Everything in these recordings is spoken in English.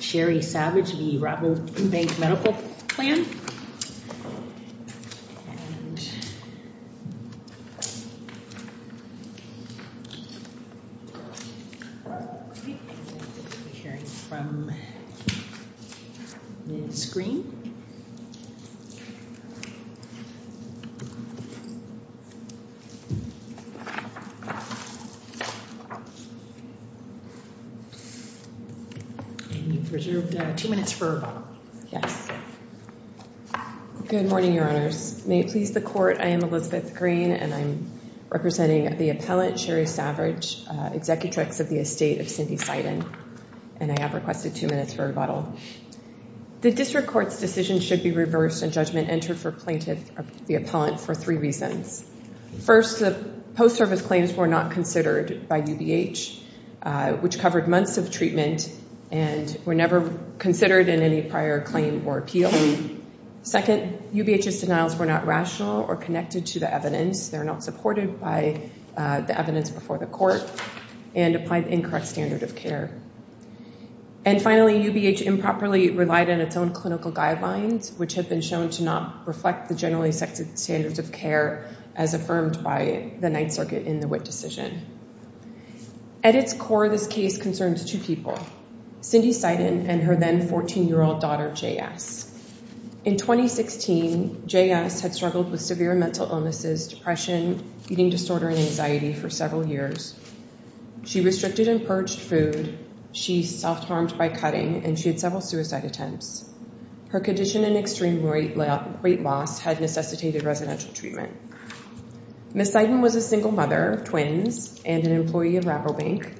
Sherry Savage v. Rabobank Medical Plan Elizabeth Green UBH improperly relied on its own clinical guidelines, which have been shown to not reflect the generally accepted standards of care as affirmed by the Ninth Circuit in the Witt decision. At its core, this case concerns two people, Cindy Seiden and her then 14-year-old daughter, J.S. In 2016, J.S. had struggled with severe mental illnesses, depression, eating disorder, and anxiety for several years. She restricted and purged food, she self-harmed by cutting, and she had several suicide attempts. Her condition and extreme weight loss had necessitated residential treatment. Ms. Seiden was a single mother of twins and an employee of Rabobank.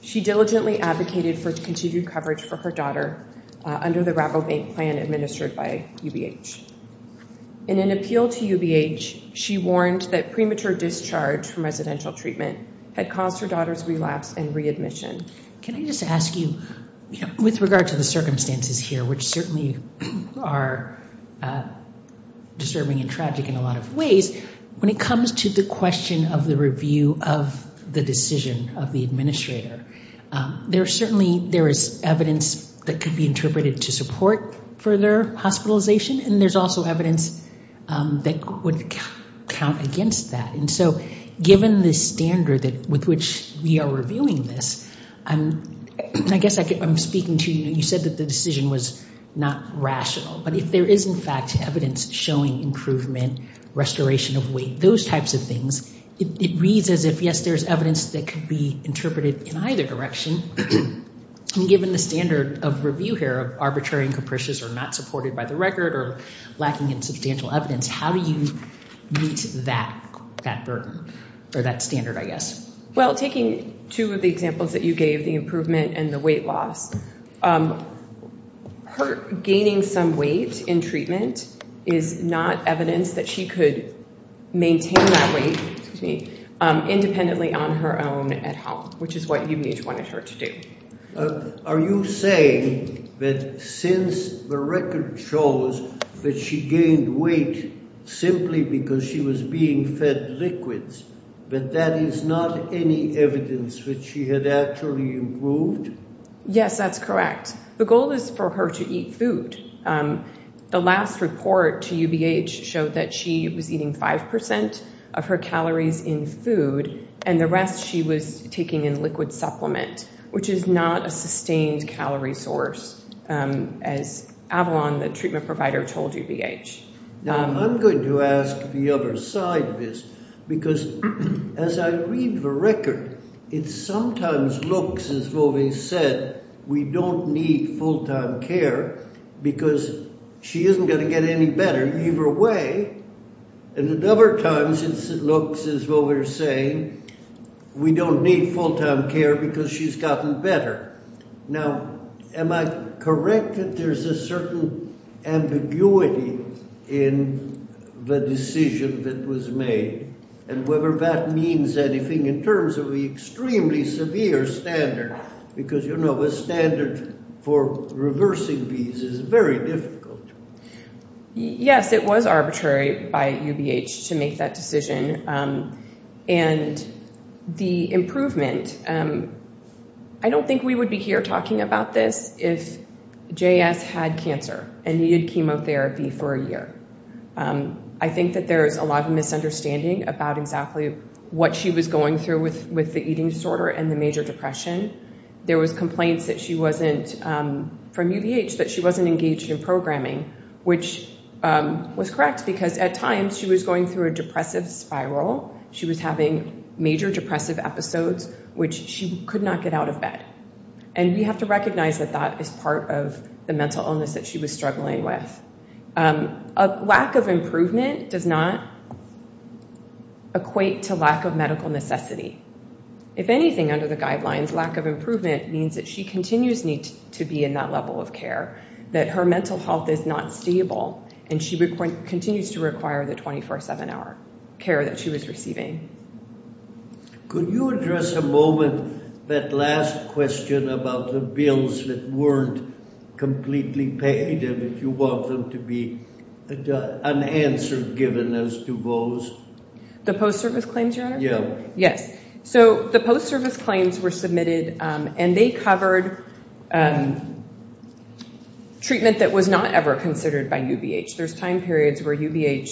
She diligently advocated for continued coverage for her daughter under the Rabobank plan administered by UBH. In an appeal to UBH, she warned that premature discharge from residential treatment had caused her daughter's relapse and readmission. Can I just ask you, with regard to the circumstances here, which certainly are disturbing and tragic in a lot of ways, when it comes to the question of the review of the decision of the administrator, there certainly is evidence that could be interpreted to support further hospitalization, and there's also evidence that would count against that. And so given the standard with which we are reviewing this, I guess I'm speaking to you. You said that the decision was not rational. But if there is, in fact, evidence showing improvement, restoration of weight, those types of things, it reads as if, yes, there's evidence that could be interpreted in either direction. Given the standard of review here of arbitrary and capricious or not supported by the record or lacking in substantial evidence, how do you meet that burden or that standard, I guess? Well, taking two of the examples that you gave, the improvement and the weight loss, gaining some weight in treatment is not evidence that she could maintain that weight independently on her own at home, which is what you each wanted her to do. Are you saying that since the record shows that she gained weight simply because she was being fed liquids, that that is not any evidence that she had actually improved? Yes, that's correct. The goal is for her to eat food. The last report to UBH showed that she was eating 5% of her calories in food, and the rest she was taking in liquid supplement, which is not a sustained calorie source, as Avalon, the treatment provider, told UBH. Now, I'm going to ask the other side of this, because as I read the record, it sometimes looks as though they said we don't need full-time care because she isn't going to get any better either way. And other times it looks as though they're saying we don't need full-time care because she's gotten better. Now, am I correct that there's a certain ambiguity in the decision that was made and whether that means anything in terms of the extremely severe standard? Because, you know, a standard for reversing these is very difficult. Yes, it was arbitrary by UBH to make that decision. And the improvement, I don't think we would be here talking about this if JS had cancer and needed chemotherapy for a year. I think that there is a lot of misunderstanding about exactly what she was going through with the eating disorder and the major depression. There was complaints from UBH that she wasn't engaged in programming, which was correct, because at times she was going through a depressive spiral. She was having major depressive episodes, which she could not get out of bed. And we have to recognize that that is part of the mental illness that she was struggling with. A lack of improvement does not equate to lack of medical necessity. If anything, under the guidelines, lack of improvement means that she continues to need to be in that level of care, that her mental health is not stable, and she continues to require the 24-7-hour care that she was receiving. Could you address a moment that last question about the bills that weren't completely paid and if you want them to be unanswered given as to those? The post-service claims, Your Honor? Yes. So the post-service claims were submitted, and they covered treatment that was not ever considered by UBH. There's time periods where UBH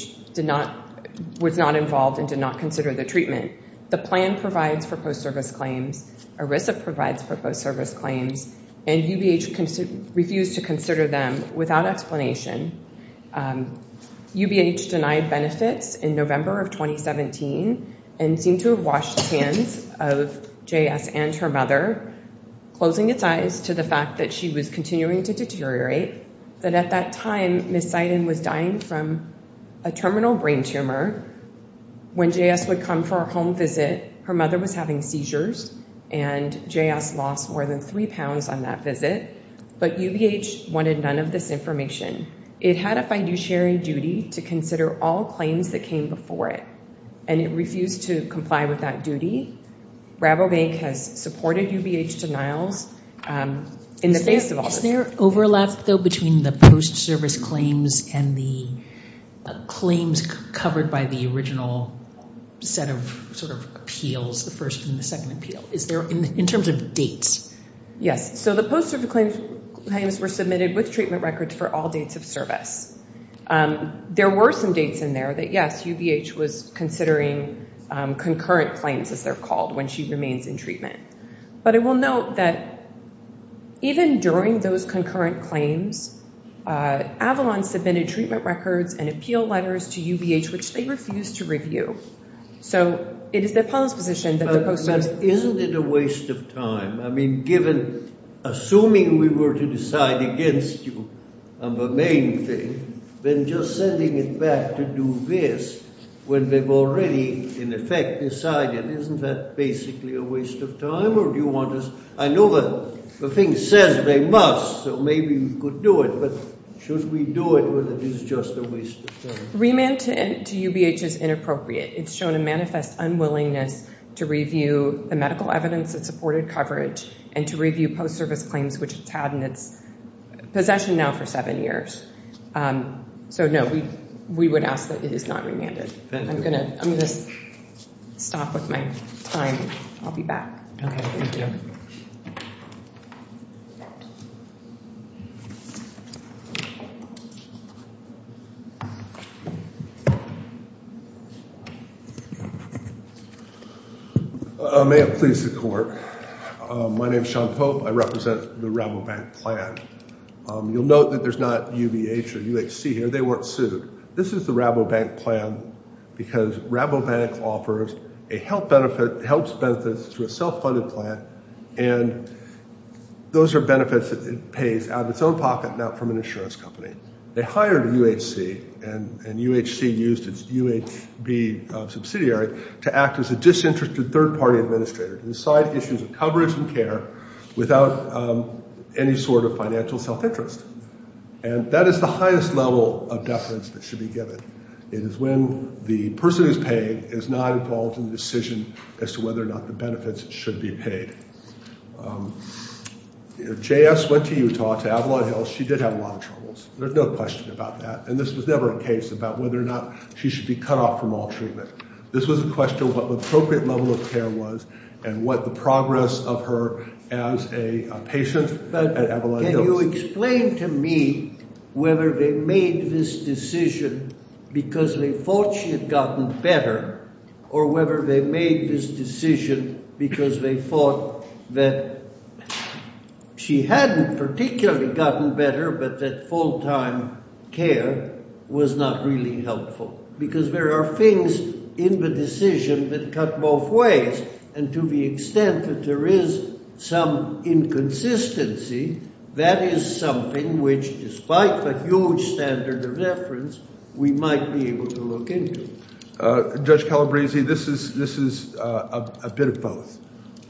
was not involved and did not consider the treatment. The plan provides for post-service claims. ERISA provides for post-service claims, and UBH refused to consider them without explanation. UBH denied benefits in November of 2017 and seemed to have washed its hands of JS and her mother, closing its eyes to the fact that she was continuing to deteriorate, that at that time Ms. Seiden was dying from a terminal brain tumor. When JS would come for a home visit, her mother was having seizures, and JS lost more than three pounds on that visit. But UBH wanted none of this information. It had a fiduciary duty to consider all claims that came before it, and it refused to comply with that duty. Rabobank has supported UBH denials in the face of all this. Is there overlap, though, between the post-service claims and the claims covered by the original set of appeals, the first and the second appeal? In terms of dates? Yes. So the post-service claims were submitted with treatment records for all dates of service. There were some dates in there that, yes, UBH was considering concurrent claims, as they're called, when she remains in treatment. But I will note that even during those concurrent claims, Avalon submitted treatment records and appeal letters to UBH, which they refused to review. So it is their policy position that the post-service— But isn't it a waste of time? I mean, given—assuming we were to decide against you on the main thing, then just sending it back to do this when they've already, in effect, decided, isn't that basically a waste of time? Or do you want us—I know that the thing says they must, so maybe you could do it, but should we do it when it is just a waste of time? Remand to UBH is inappropriate. It's shown a manifest unwillingness to review the medical evidence that supported coverage and to review post-service claims, which it's had in its possession now for seven years. So, no, we would ask that it is not remanded. I'm going to stop with my time. I'll be back. Okay. Thank you. May it please the Court. My name is Sean Pope. I represent the Rabobank plan. You'll note that there's not UBH or UHC here. They weren't sued. This is the Rabobank plan because Rabobank offers a health benefit—helps benefits through a self-funded plan, and those are benefits that it pays out of its own pocket, not from an insurance company. They hired UHC, and UHC used its UHB subsidiary to act as a disinterested third-party administrator to decide issues of coverage and care without any sort of financial self-interest. And that is the highest level of deference that should be given. It is when the person who's paid is not involved in the decision as to whether or not the benefits should be paid. J.S. went to Utah, to Avalon Hills. She did have a lot of troubles. There's no question about that. And this was never a case about whether or not she should be cut off from all treatment. This was a question of what the appropriate level of care was and what the progress of her as a patient at Avalon Hills. Now, you explain to me whether they made this decision because they thought she had gotten better or whether they made this decision because they thought that she hadn't particularly gotten better but that full-time care was not really helpful. Because there are things in the decision that cut both ways. And to the extent that there is some inconsistency, that is something which, despite the huge standard of deference, we might be able to look into. Judge Calabresi, this is a bit of both.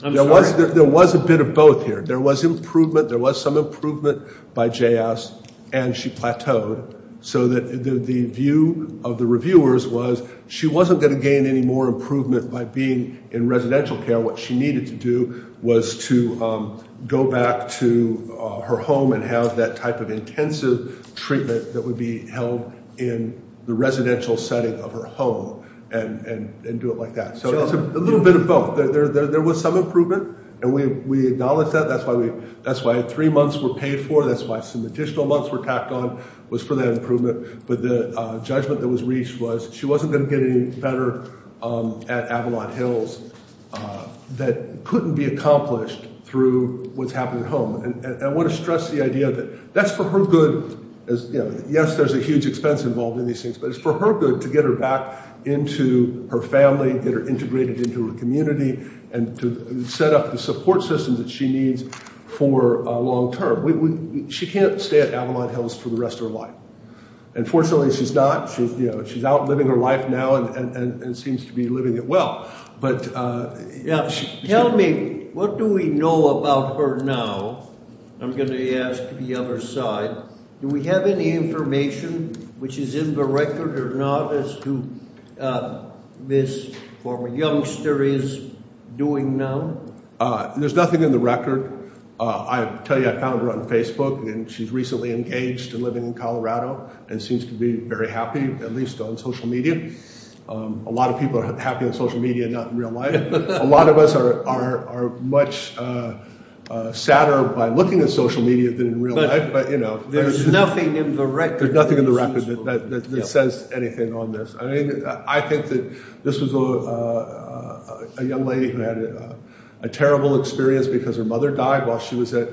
There was a bit of both here. There was improvement. There was some improvement by J.S. and she plateaued so that the view of the reviewers was she wasn't going to gain any more improvement by being in residential care. What she needed to do was to go back to her home and have that type of intensive treatment that would be held in the residential setting of her home and do it like that. So it's a little bit of both. There was some improvement, and we acknowledge that. That's why three months were paid for. That's why some additional months were tacked on was for that improvement. But the judgment that was reached was she wasn't going to get any better at Avalon Hills that couldn't be accomplished through what's happening at home. And I want to stress the idea that that's for her good. Yes, there's a huge expense involved in these things, but it's for her good to get her back into her family, get her integrated into her community, and to set up the support system that she needs for long term. She can't stay at Avalon Hills for the rest of her life. Unfortunately, she's not. She's out living her life now and seems to be living it well. Tell me, what do we know about her now? I'm going to ask the other side. Do we have any information which is in the record or not as to what this former youngster is doing now? There's nothing in the record. I tell you, I found her on Facebook, and she's recently engaged and living in Colorado and seems to be very happy, at least on social media. A lot of people are happy on social media, not in real life. A lot of us are much sadder by looking at social media than in real life. But there's nothing in the record. There's nothing in the record that says anything on this. I think that this was a young lady who had a terrible experience because her mother died while she was at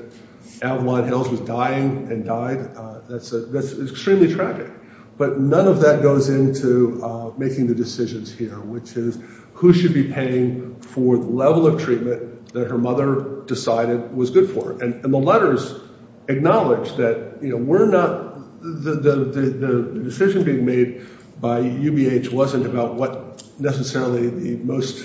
Avalon Hills. She was dying and died. That's extremely tragic. But none of that goes into making the decisions here, which is who should be paying for the level of treatment that her mother decided was good for. And the letters acknowledge that the decision being made by UBH wasn't about what necessarily the most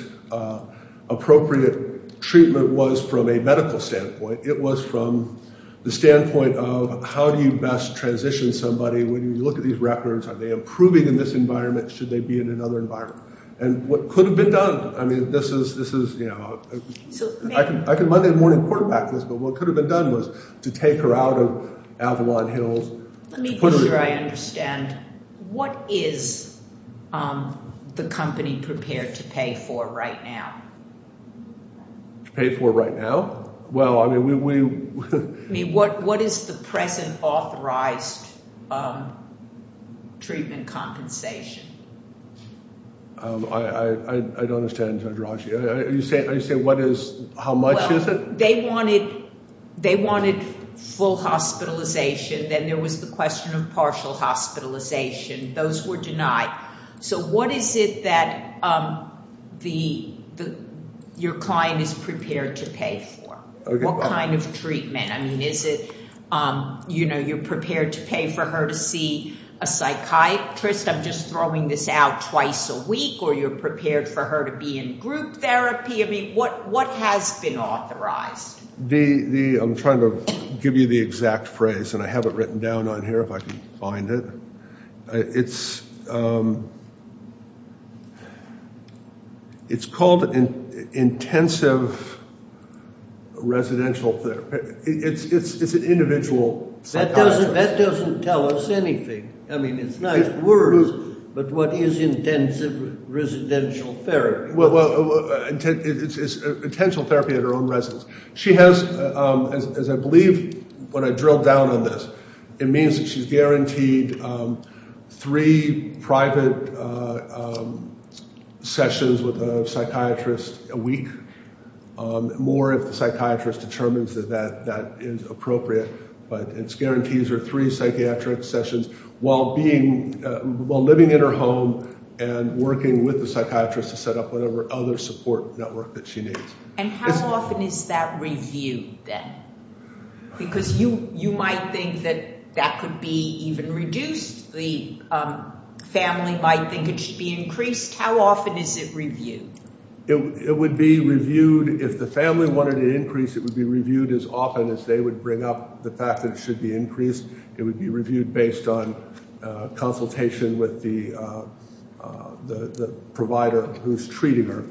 appropriate treatment was from a medical standpoint. It was from the standpoint of how do you best transition somebody when you look at these records? Are they improving in this environment? Should they be in another environment? And what could have been done? I could Monday morning quarterback this, but what could have been done was to take her out of Avalon Hills. Let me make sure I understand. What is the company prepared to pay for right now? To pay for right now? Well, I mean, we— I mean, what is the present authorized treatment compensation? I don't understand, Dr. Hodge. Are you saying what is—how much is it? Well, they wanted full hospitalization. Then there was the question of partial hospitalization. Those were denied. So what is it that your client is prepared to pay for? What kind of treatment? I mean, is it, you know, you're prepared to pay for her to see a psychiatrist? I'm just throwing this out twice a week, or you're prepared for her to be in group therapy? I mean, what has been authorized? I'm trying to give you the exact phrase, and I have it written down on here if I can find it. It's called intensive residential therapy. It's an individual psychiatrist. That doesn't tell us anything. I mean, it's nice words, but what is intensive residential therapy? Well, it's intentional therapy at her own residence. She has, as I believe when I drilled down on this, it means that she's guaranteed three private sessions with a psychiatrist a week. More if the psychiatrist determines that that is appropriate. But it guarantees her three psychiatric sessions while living in her home and working with the psychiatrist to set up whatever other support network that she needs. And how often is that reviewed then? Because you might think that that could be even reduced. The family might think it should be increased. How often is it reviewed? It would be reviewed if the family wanted an increase. It would be reviewed as often as they would bring up the fact that it should be increased. It would be reviewed based on consultation with the provider who's treating her.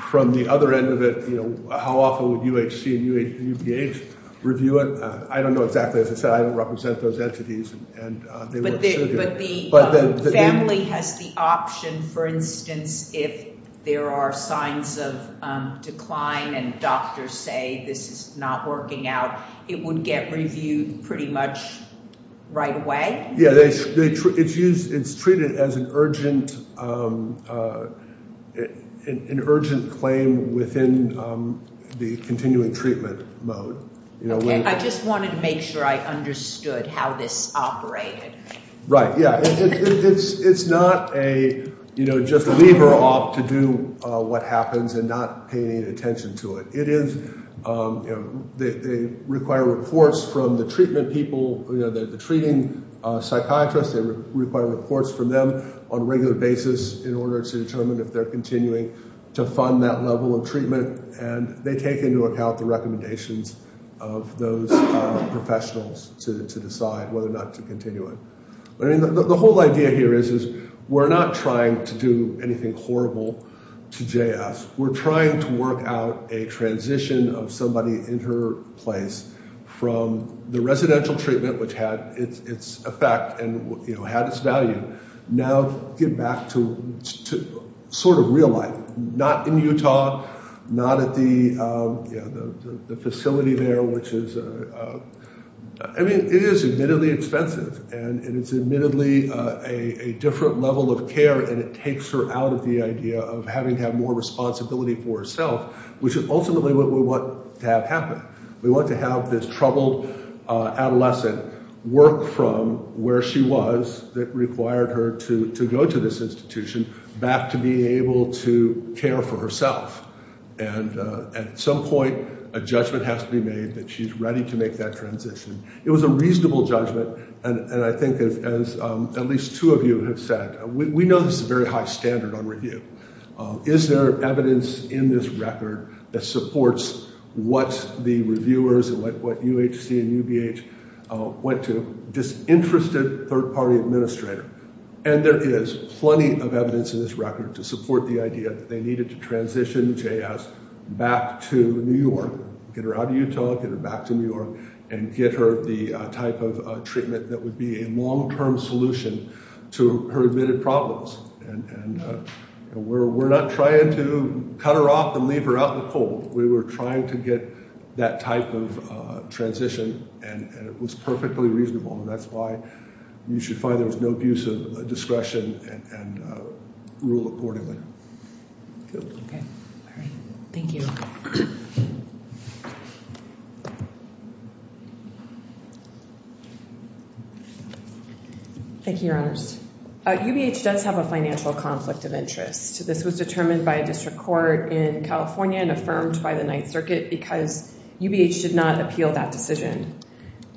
From the other end of it, how often would UHC and UBH review it? I don't know exactly. As I said, I don't represent those entities. But the family has the option, for instance, if there are signs of decline and doctors say this is not working out, it would get reviewed pretty much right away? Yeah. It's treated as an urgent claim within the continuing treatment mode. Okay. I just wanted to make sure I understood how this operated. Right. Yeah. It's not a just leave her off to do what happens and not pay any attention to it. It is – they require reports from the treatment people, the treating psychiatrist. They require reports from them on a regular basis in order to determine if they're continuing to fund that level of treatment. And they take into account the recommendations of those professionals to decide whether or not to continue it. But, I mean, the whole idea here is we're not trying to do anything horrible to JS. We're trying to work out a transition of somebody in her place from the residential treatment, which had its effect and had its value. Now get back to sort of real life, not in Utah, not at the facility there, which is – I mean it is admittedly expensive. And it is admittedly a different level of care, and it takes her out of the idea of having to have more responsibility for herself, which is ultimately what we want to have happen. We want to have this troubled adolescent work from where she was that required her to go to this institution back to being able to care for herself. And at some point, a judgment has to be made that she's ready to make that transition. It was a reasonable judgment, and I think as at least two of you have said, we know this is a very high standard on review. Is there evidence in this record that supports what the reviewers and what UHC and UBH went to, this interested third-party administrator? And there is plenty of evidence in this record to support the idea that they needed to transition JS back to New York. Get her out of Utah, get her back to New York, and get her the type of treatment that would be a long-term solution to her admitted problems. And we're not trying to cut her off and leave her out in the cold. We were trying to get that type of transition, and it was perfectly reasonable. And that's why you should find there was no abuse of discretion and rule accordingly. Good. Okay. All right. Thank you. Thank you, Your Honors. UBH does have a financial conflict of interest. This was determined by a district court in California and affirmed by the Ninth Circuit because UBH did not appeal that decision.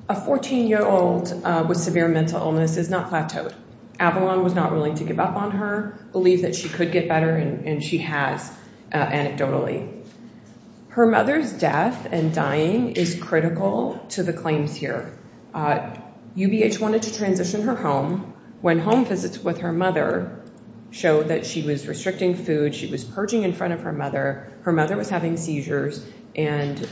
A 14-year-old with severe mental illness is not plateaued. Avalon was not willing to give up on her, believe that she could get better, and she has, anecdotally. Her mother's death and dying is critical to the claims here. UBH wanted to transition her home. When home visits with her mother showed that she was restricting food, she was purging in front of her mother, her mother was having seizures, and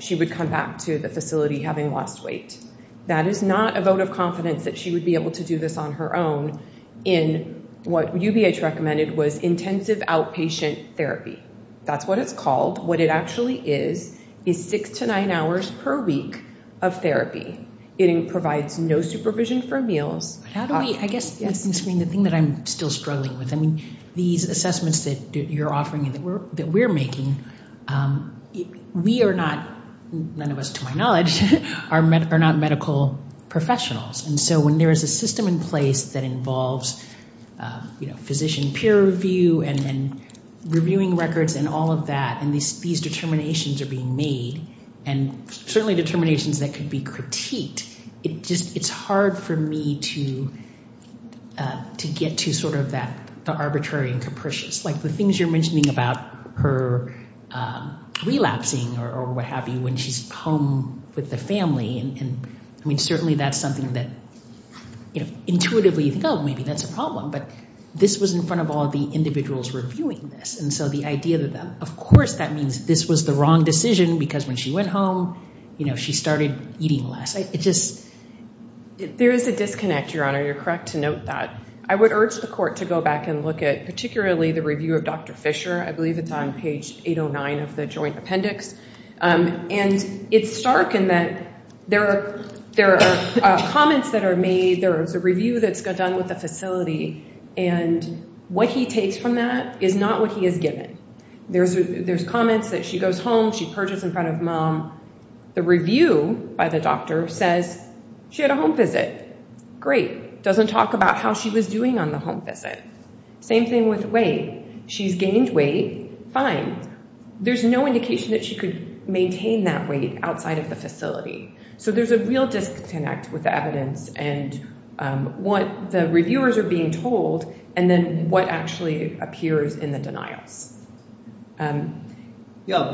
she would come back to the facility having lost weight. That is not a vote of confidence that she would be able to do this on her own in what UBH recommended was intensive outpatient therapy. That's what it's called. What it actually is is six to nine hours per week of therapy. It provides no supervision for meals. How do we, I guess, Ms. Green, the thing that I'm still struggling with, I mean, these assessments that you're offering and that we're making, we are not, none of us to my knowledge, are not medical professionals. And so when there is a system in place that involves physician peer review and reviewing records and all of that and these determinations are being made, and certainly determinations that could be critiqued, it's hard for me to get to sort of the arbitrary and capricious. Like the things you're mentioning about her relapsing or what have you when she's home with the family, I mean, certainly that's something that intuitively you think, oh, maybe that's a problem. But this was in front of all the individuals reviewing this. And so the idea that, of course, that means this was the wrong decision because when she went home, you know, she started eating less. There is a disconnect, Your Honor. You're correct to note that. I would urge the court to go back and look at particularly the review of Dr. Fisher. I believe it's on page 809 of the joint appendix. And it's stark in that there are comments that are made. There is a review that's done with the facility. And what he takes from that is not what he has given. There's comments that she goes home, she purges in front of mom. The review by the doctor says she had a home visit. Great. Doesn't talk about how she was doing on the home visit. Same thing with weight. She's gained weight. Fine. There's no indication that she could maintain that weight outside of the facility. So there's a real disconnect with the evidence and what the reviewers are being told and then what actually appears in the denials. Yeah,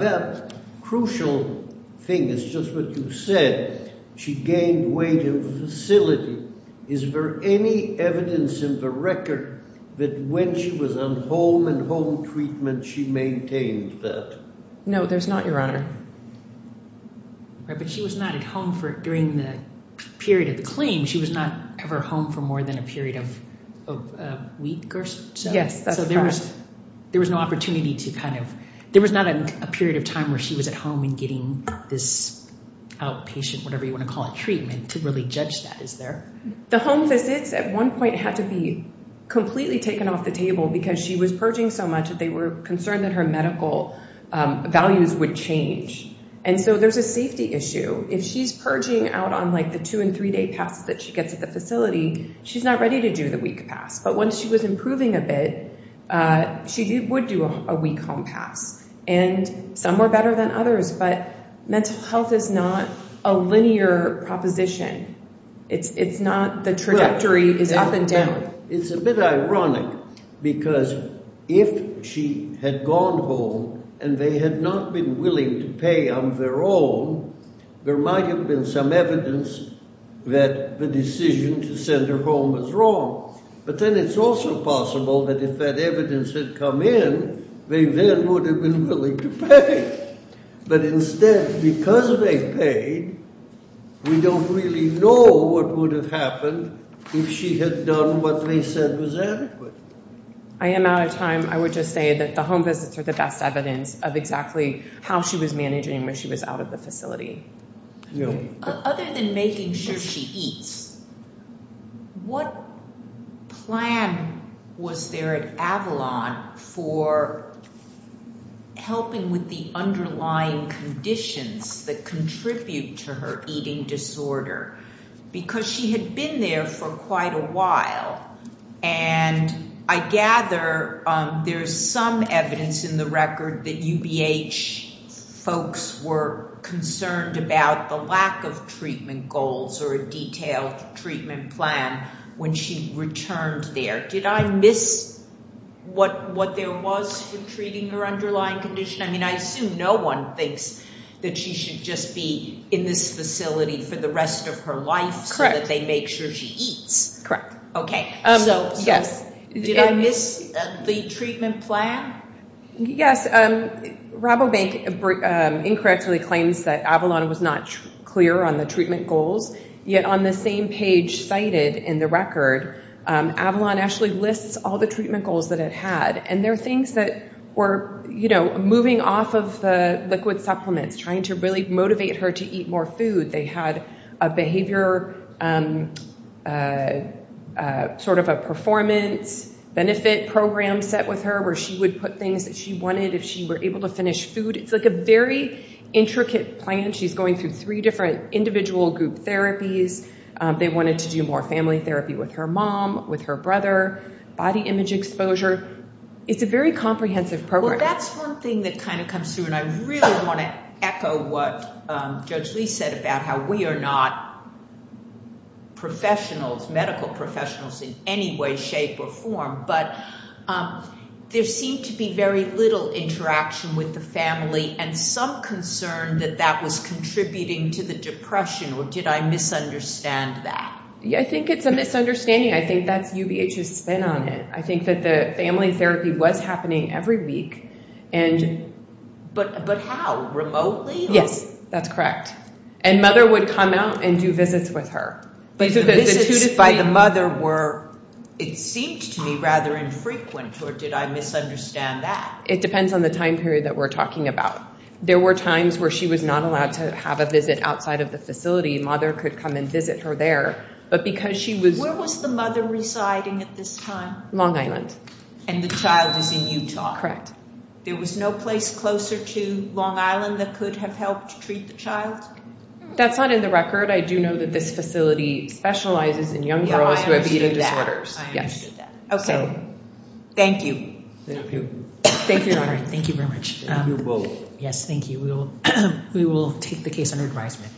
that crucial thing is just what you said. She gained weight in the facility. Is there any evidence in the record that when she was on home and home treatment, she maintained that? No, there's not, Your Honor. But she was not at home during the period of the claim. She was not ever home for more than a period of a week or so. Yes, that's correct. So there was no opportunity to kind of – there was not a period of time where she was at home and getting this outpatient, whatever you want to call it, treatment to really judge that, is there? The home visits at one point had to be completely taken off the table because she was purging so much that they were concerned that her medical values would change. And so there's a safety issue. If she's purging out on, like, the two- and three-day pass that she gets at the facility, she's not ready to do the week pass. But once she was improving a bit, she would do a week home pass. And some were better than others, but mental health is not a linear proposition. It's not the trajectory is up and down. It's a bit ironic because if she had gone home and they had not been willing to pay on their own, there might have been some evidence that the decision to send her home was wrong. But then it's also possible that if that evidence had come in, they then would have been willing to pay. But instead, because they paid, we don't really know what would have happened if she had done what they said was adequate. I am out of time. I would just say that the home visits are the best evidence of exactly how she was managing when she was out of the facility. Other than making sure she eats, what plan was there at Avalon for helping with the underlying conditions that contribute to her eating disorder? Because she had been there for quite a while. And I gather there's some evidence in the record that UBH folks were concerned about the lack of treatment goals or a detailed treatment plan when she returned there. Did I miss what there was for treating her underlying condition? I assume no one thinks that she should just be in this facility for the rest of her life so that they make sure she eats. Okay. Did I miss the treatment plan? Yes. Rabobank incorrectly claims that Avalon was not clear on the treatment goals. Yet on the same page cited in the record, Avalon actually lists all the treatment goals that it had. And there are things that were moving off of the liquid supplements, trying to really motivate her to eat more food. They had a behavior sort of a performance benefit program set with her where she would put things that she wanted if she were able to finish food. It's like a very intricate plan. She's going through three different individual group therapies. They wanted to do more family therapy with her mom, with her brother. Body image exposure. It's a very comprehensive program. Well, that's one thing that kind of comes through. And I really want to echo what Judge Lee said about how we are not professionals, medical professionals in any way, shape, or form. But there seemed to be very little interaction with the family and some concern that that was contributing to the depression. Or did I misunderstand that? I think it's a misunderstanding. I think that's UBH's spin on it. I think that the family therapy was happening every week. But how? Remotely? Yes, that's correct. And Mother would come out and do visits with her. But the visits by the mother were, it seemed to me, rather infrequent. Or did I misunderstand that? It depends on the time period that we're talking about. There were times where she was not allowed to have a visit outside of the facility. Mother could come and visit her there. Where was the mother residing at this time? Long Island. And the child is in Utah? Correct. There was no place closer to Long Island that could have helped treat the child? That's not in the record. I do know that this facility specializes in young girls who have eating disorders. I understood that. Okay. Thank you. Thank you. Thank you, Your Honor. Thank you very much. Thank you both. Yes, thank you. We will take the case under advisement.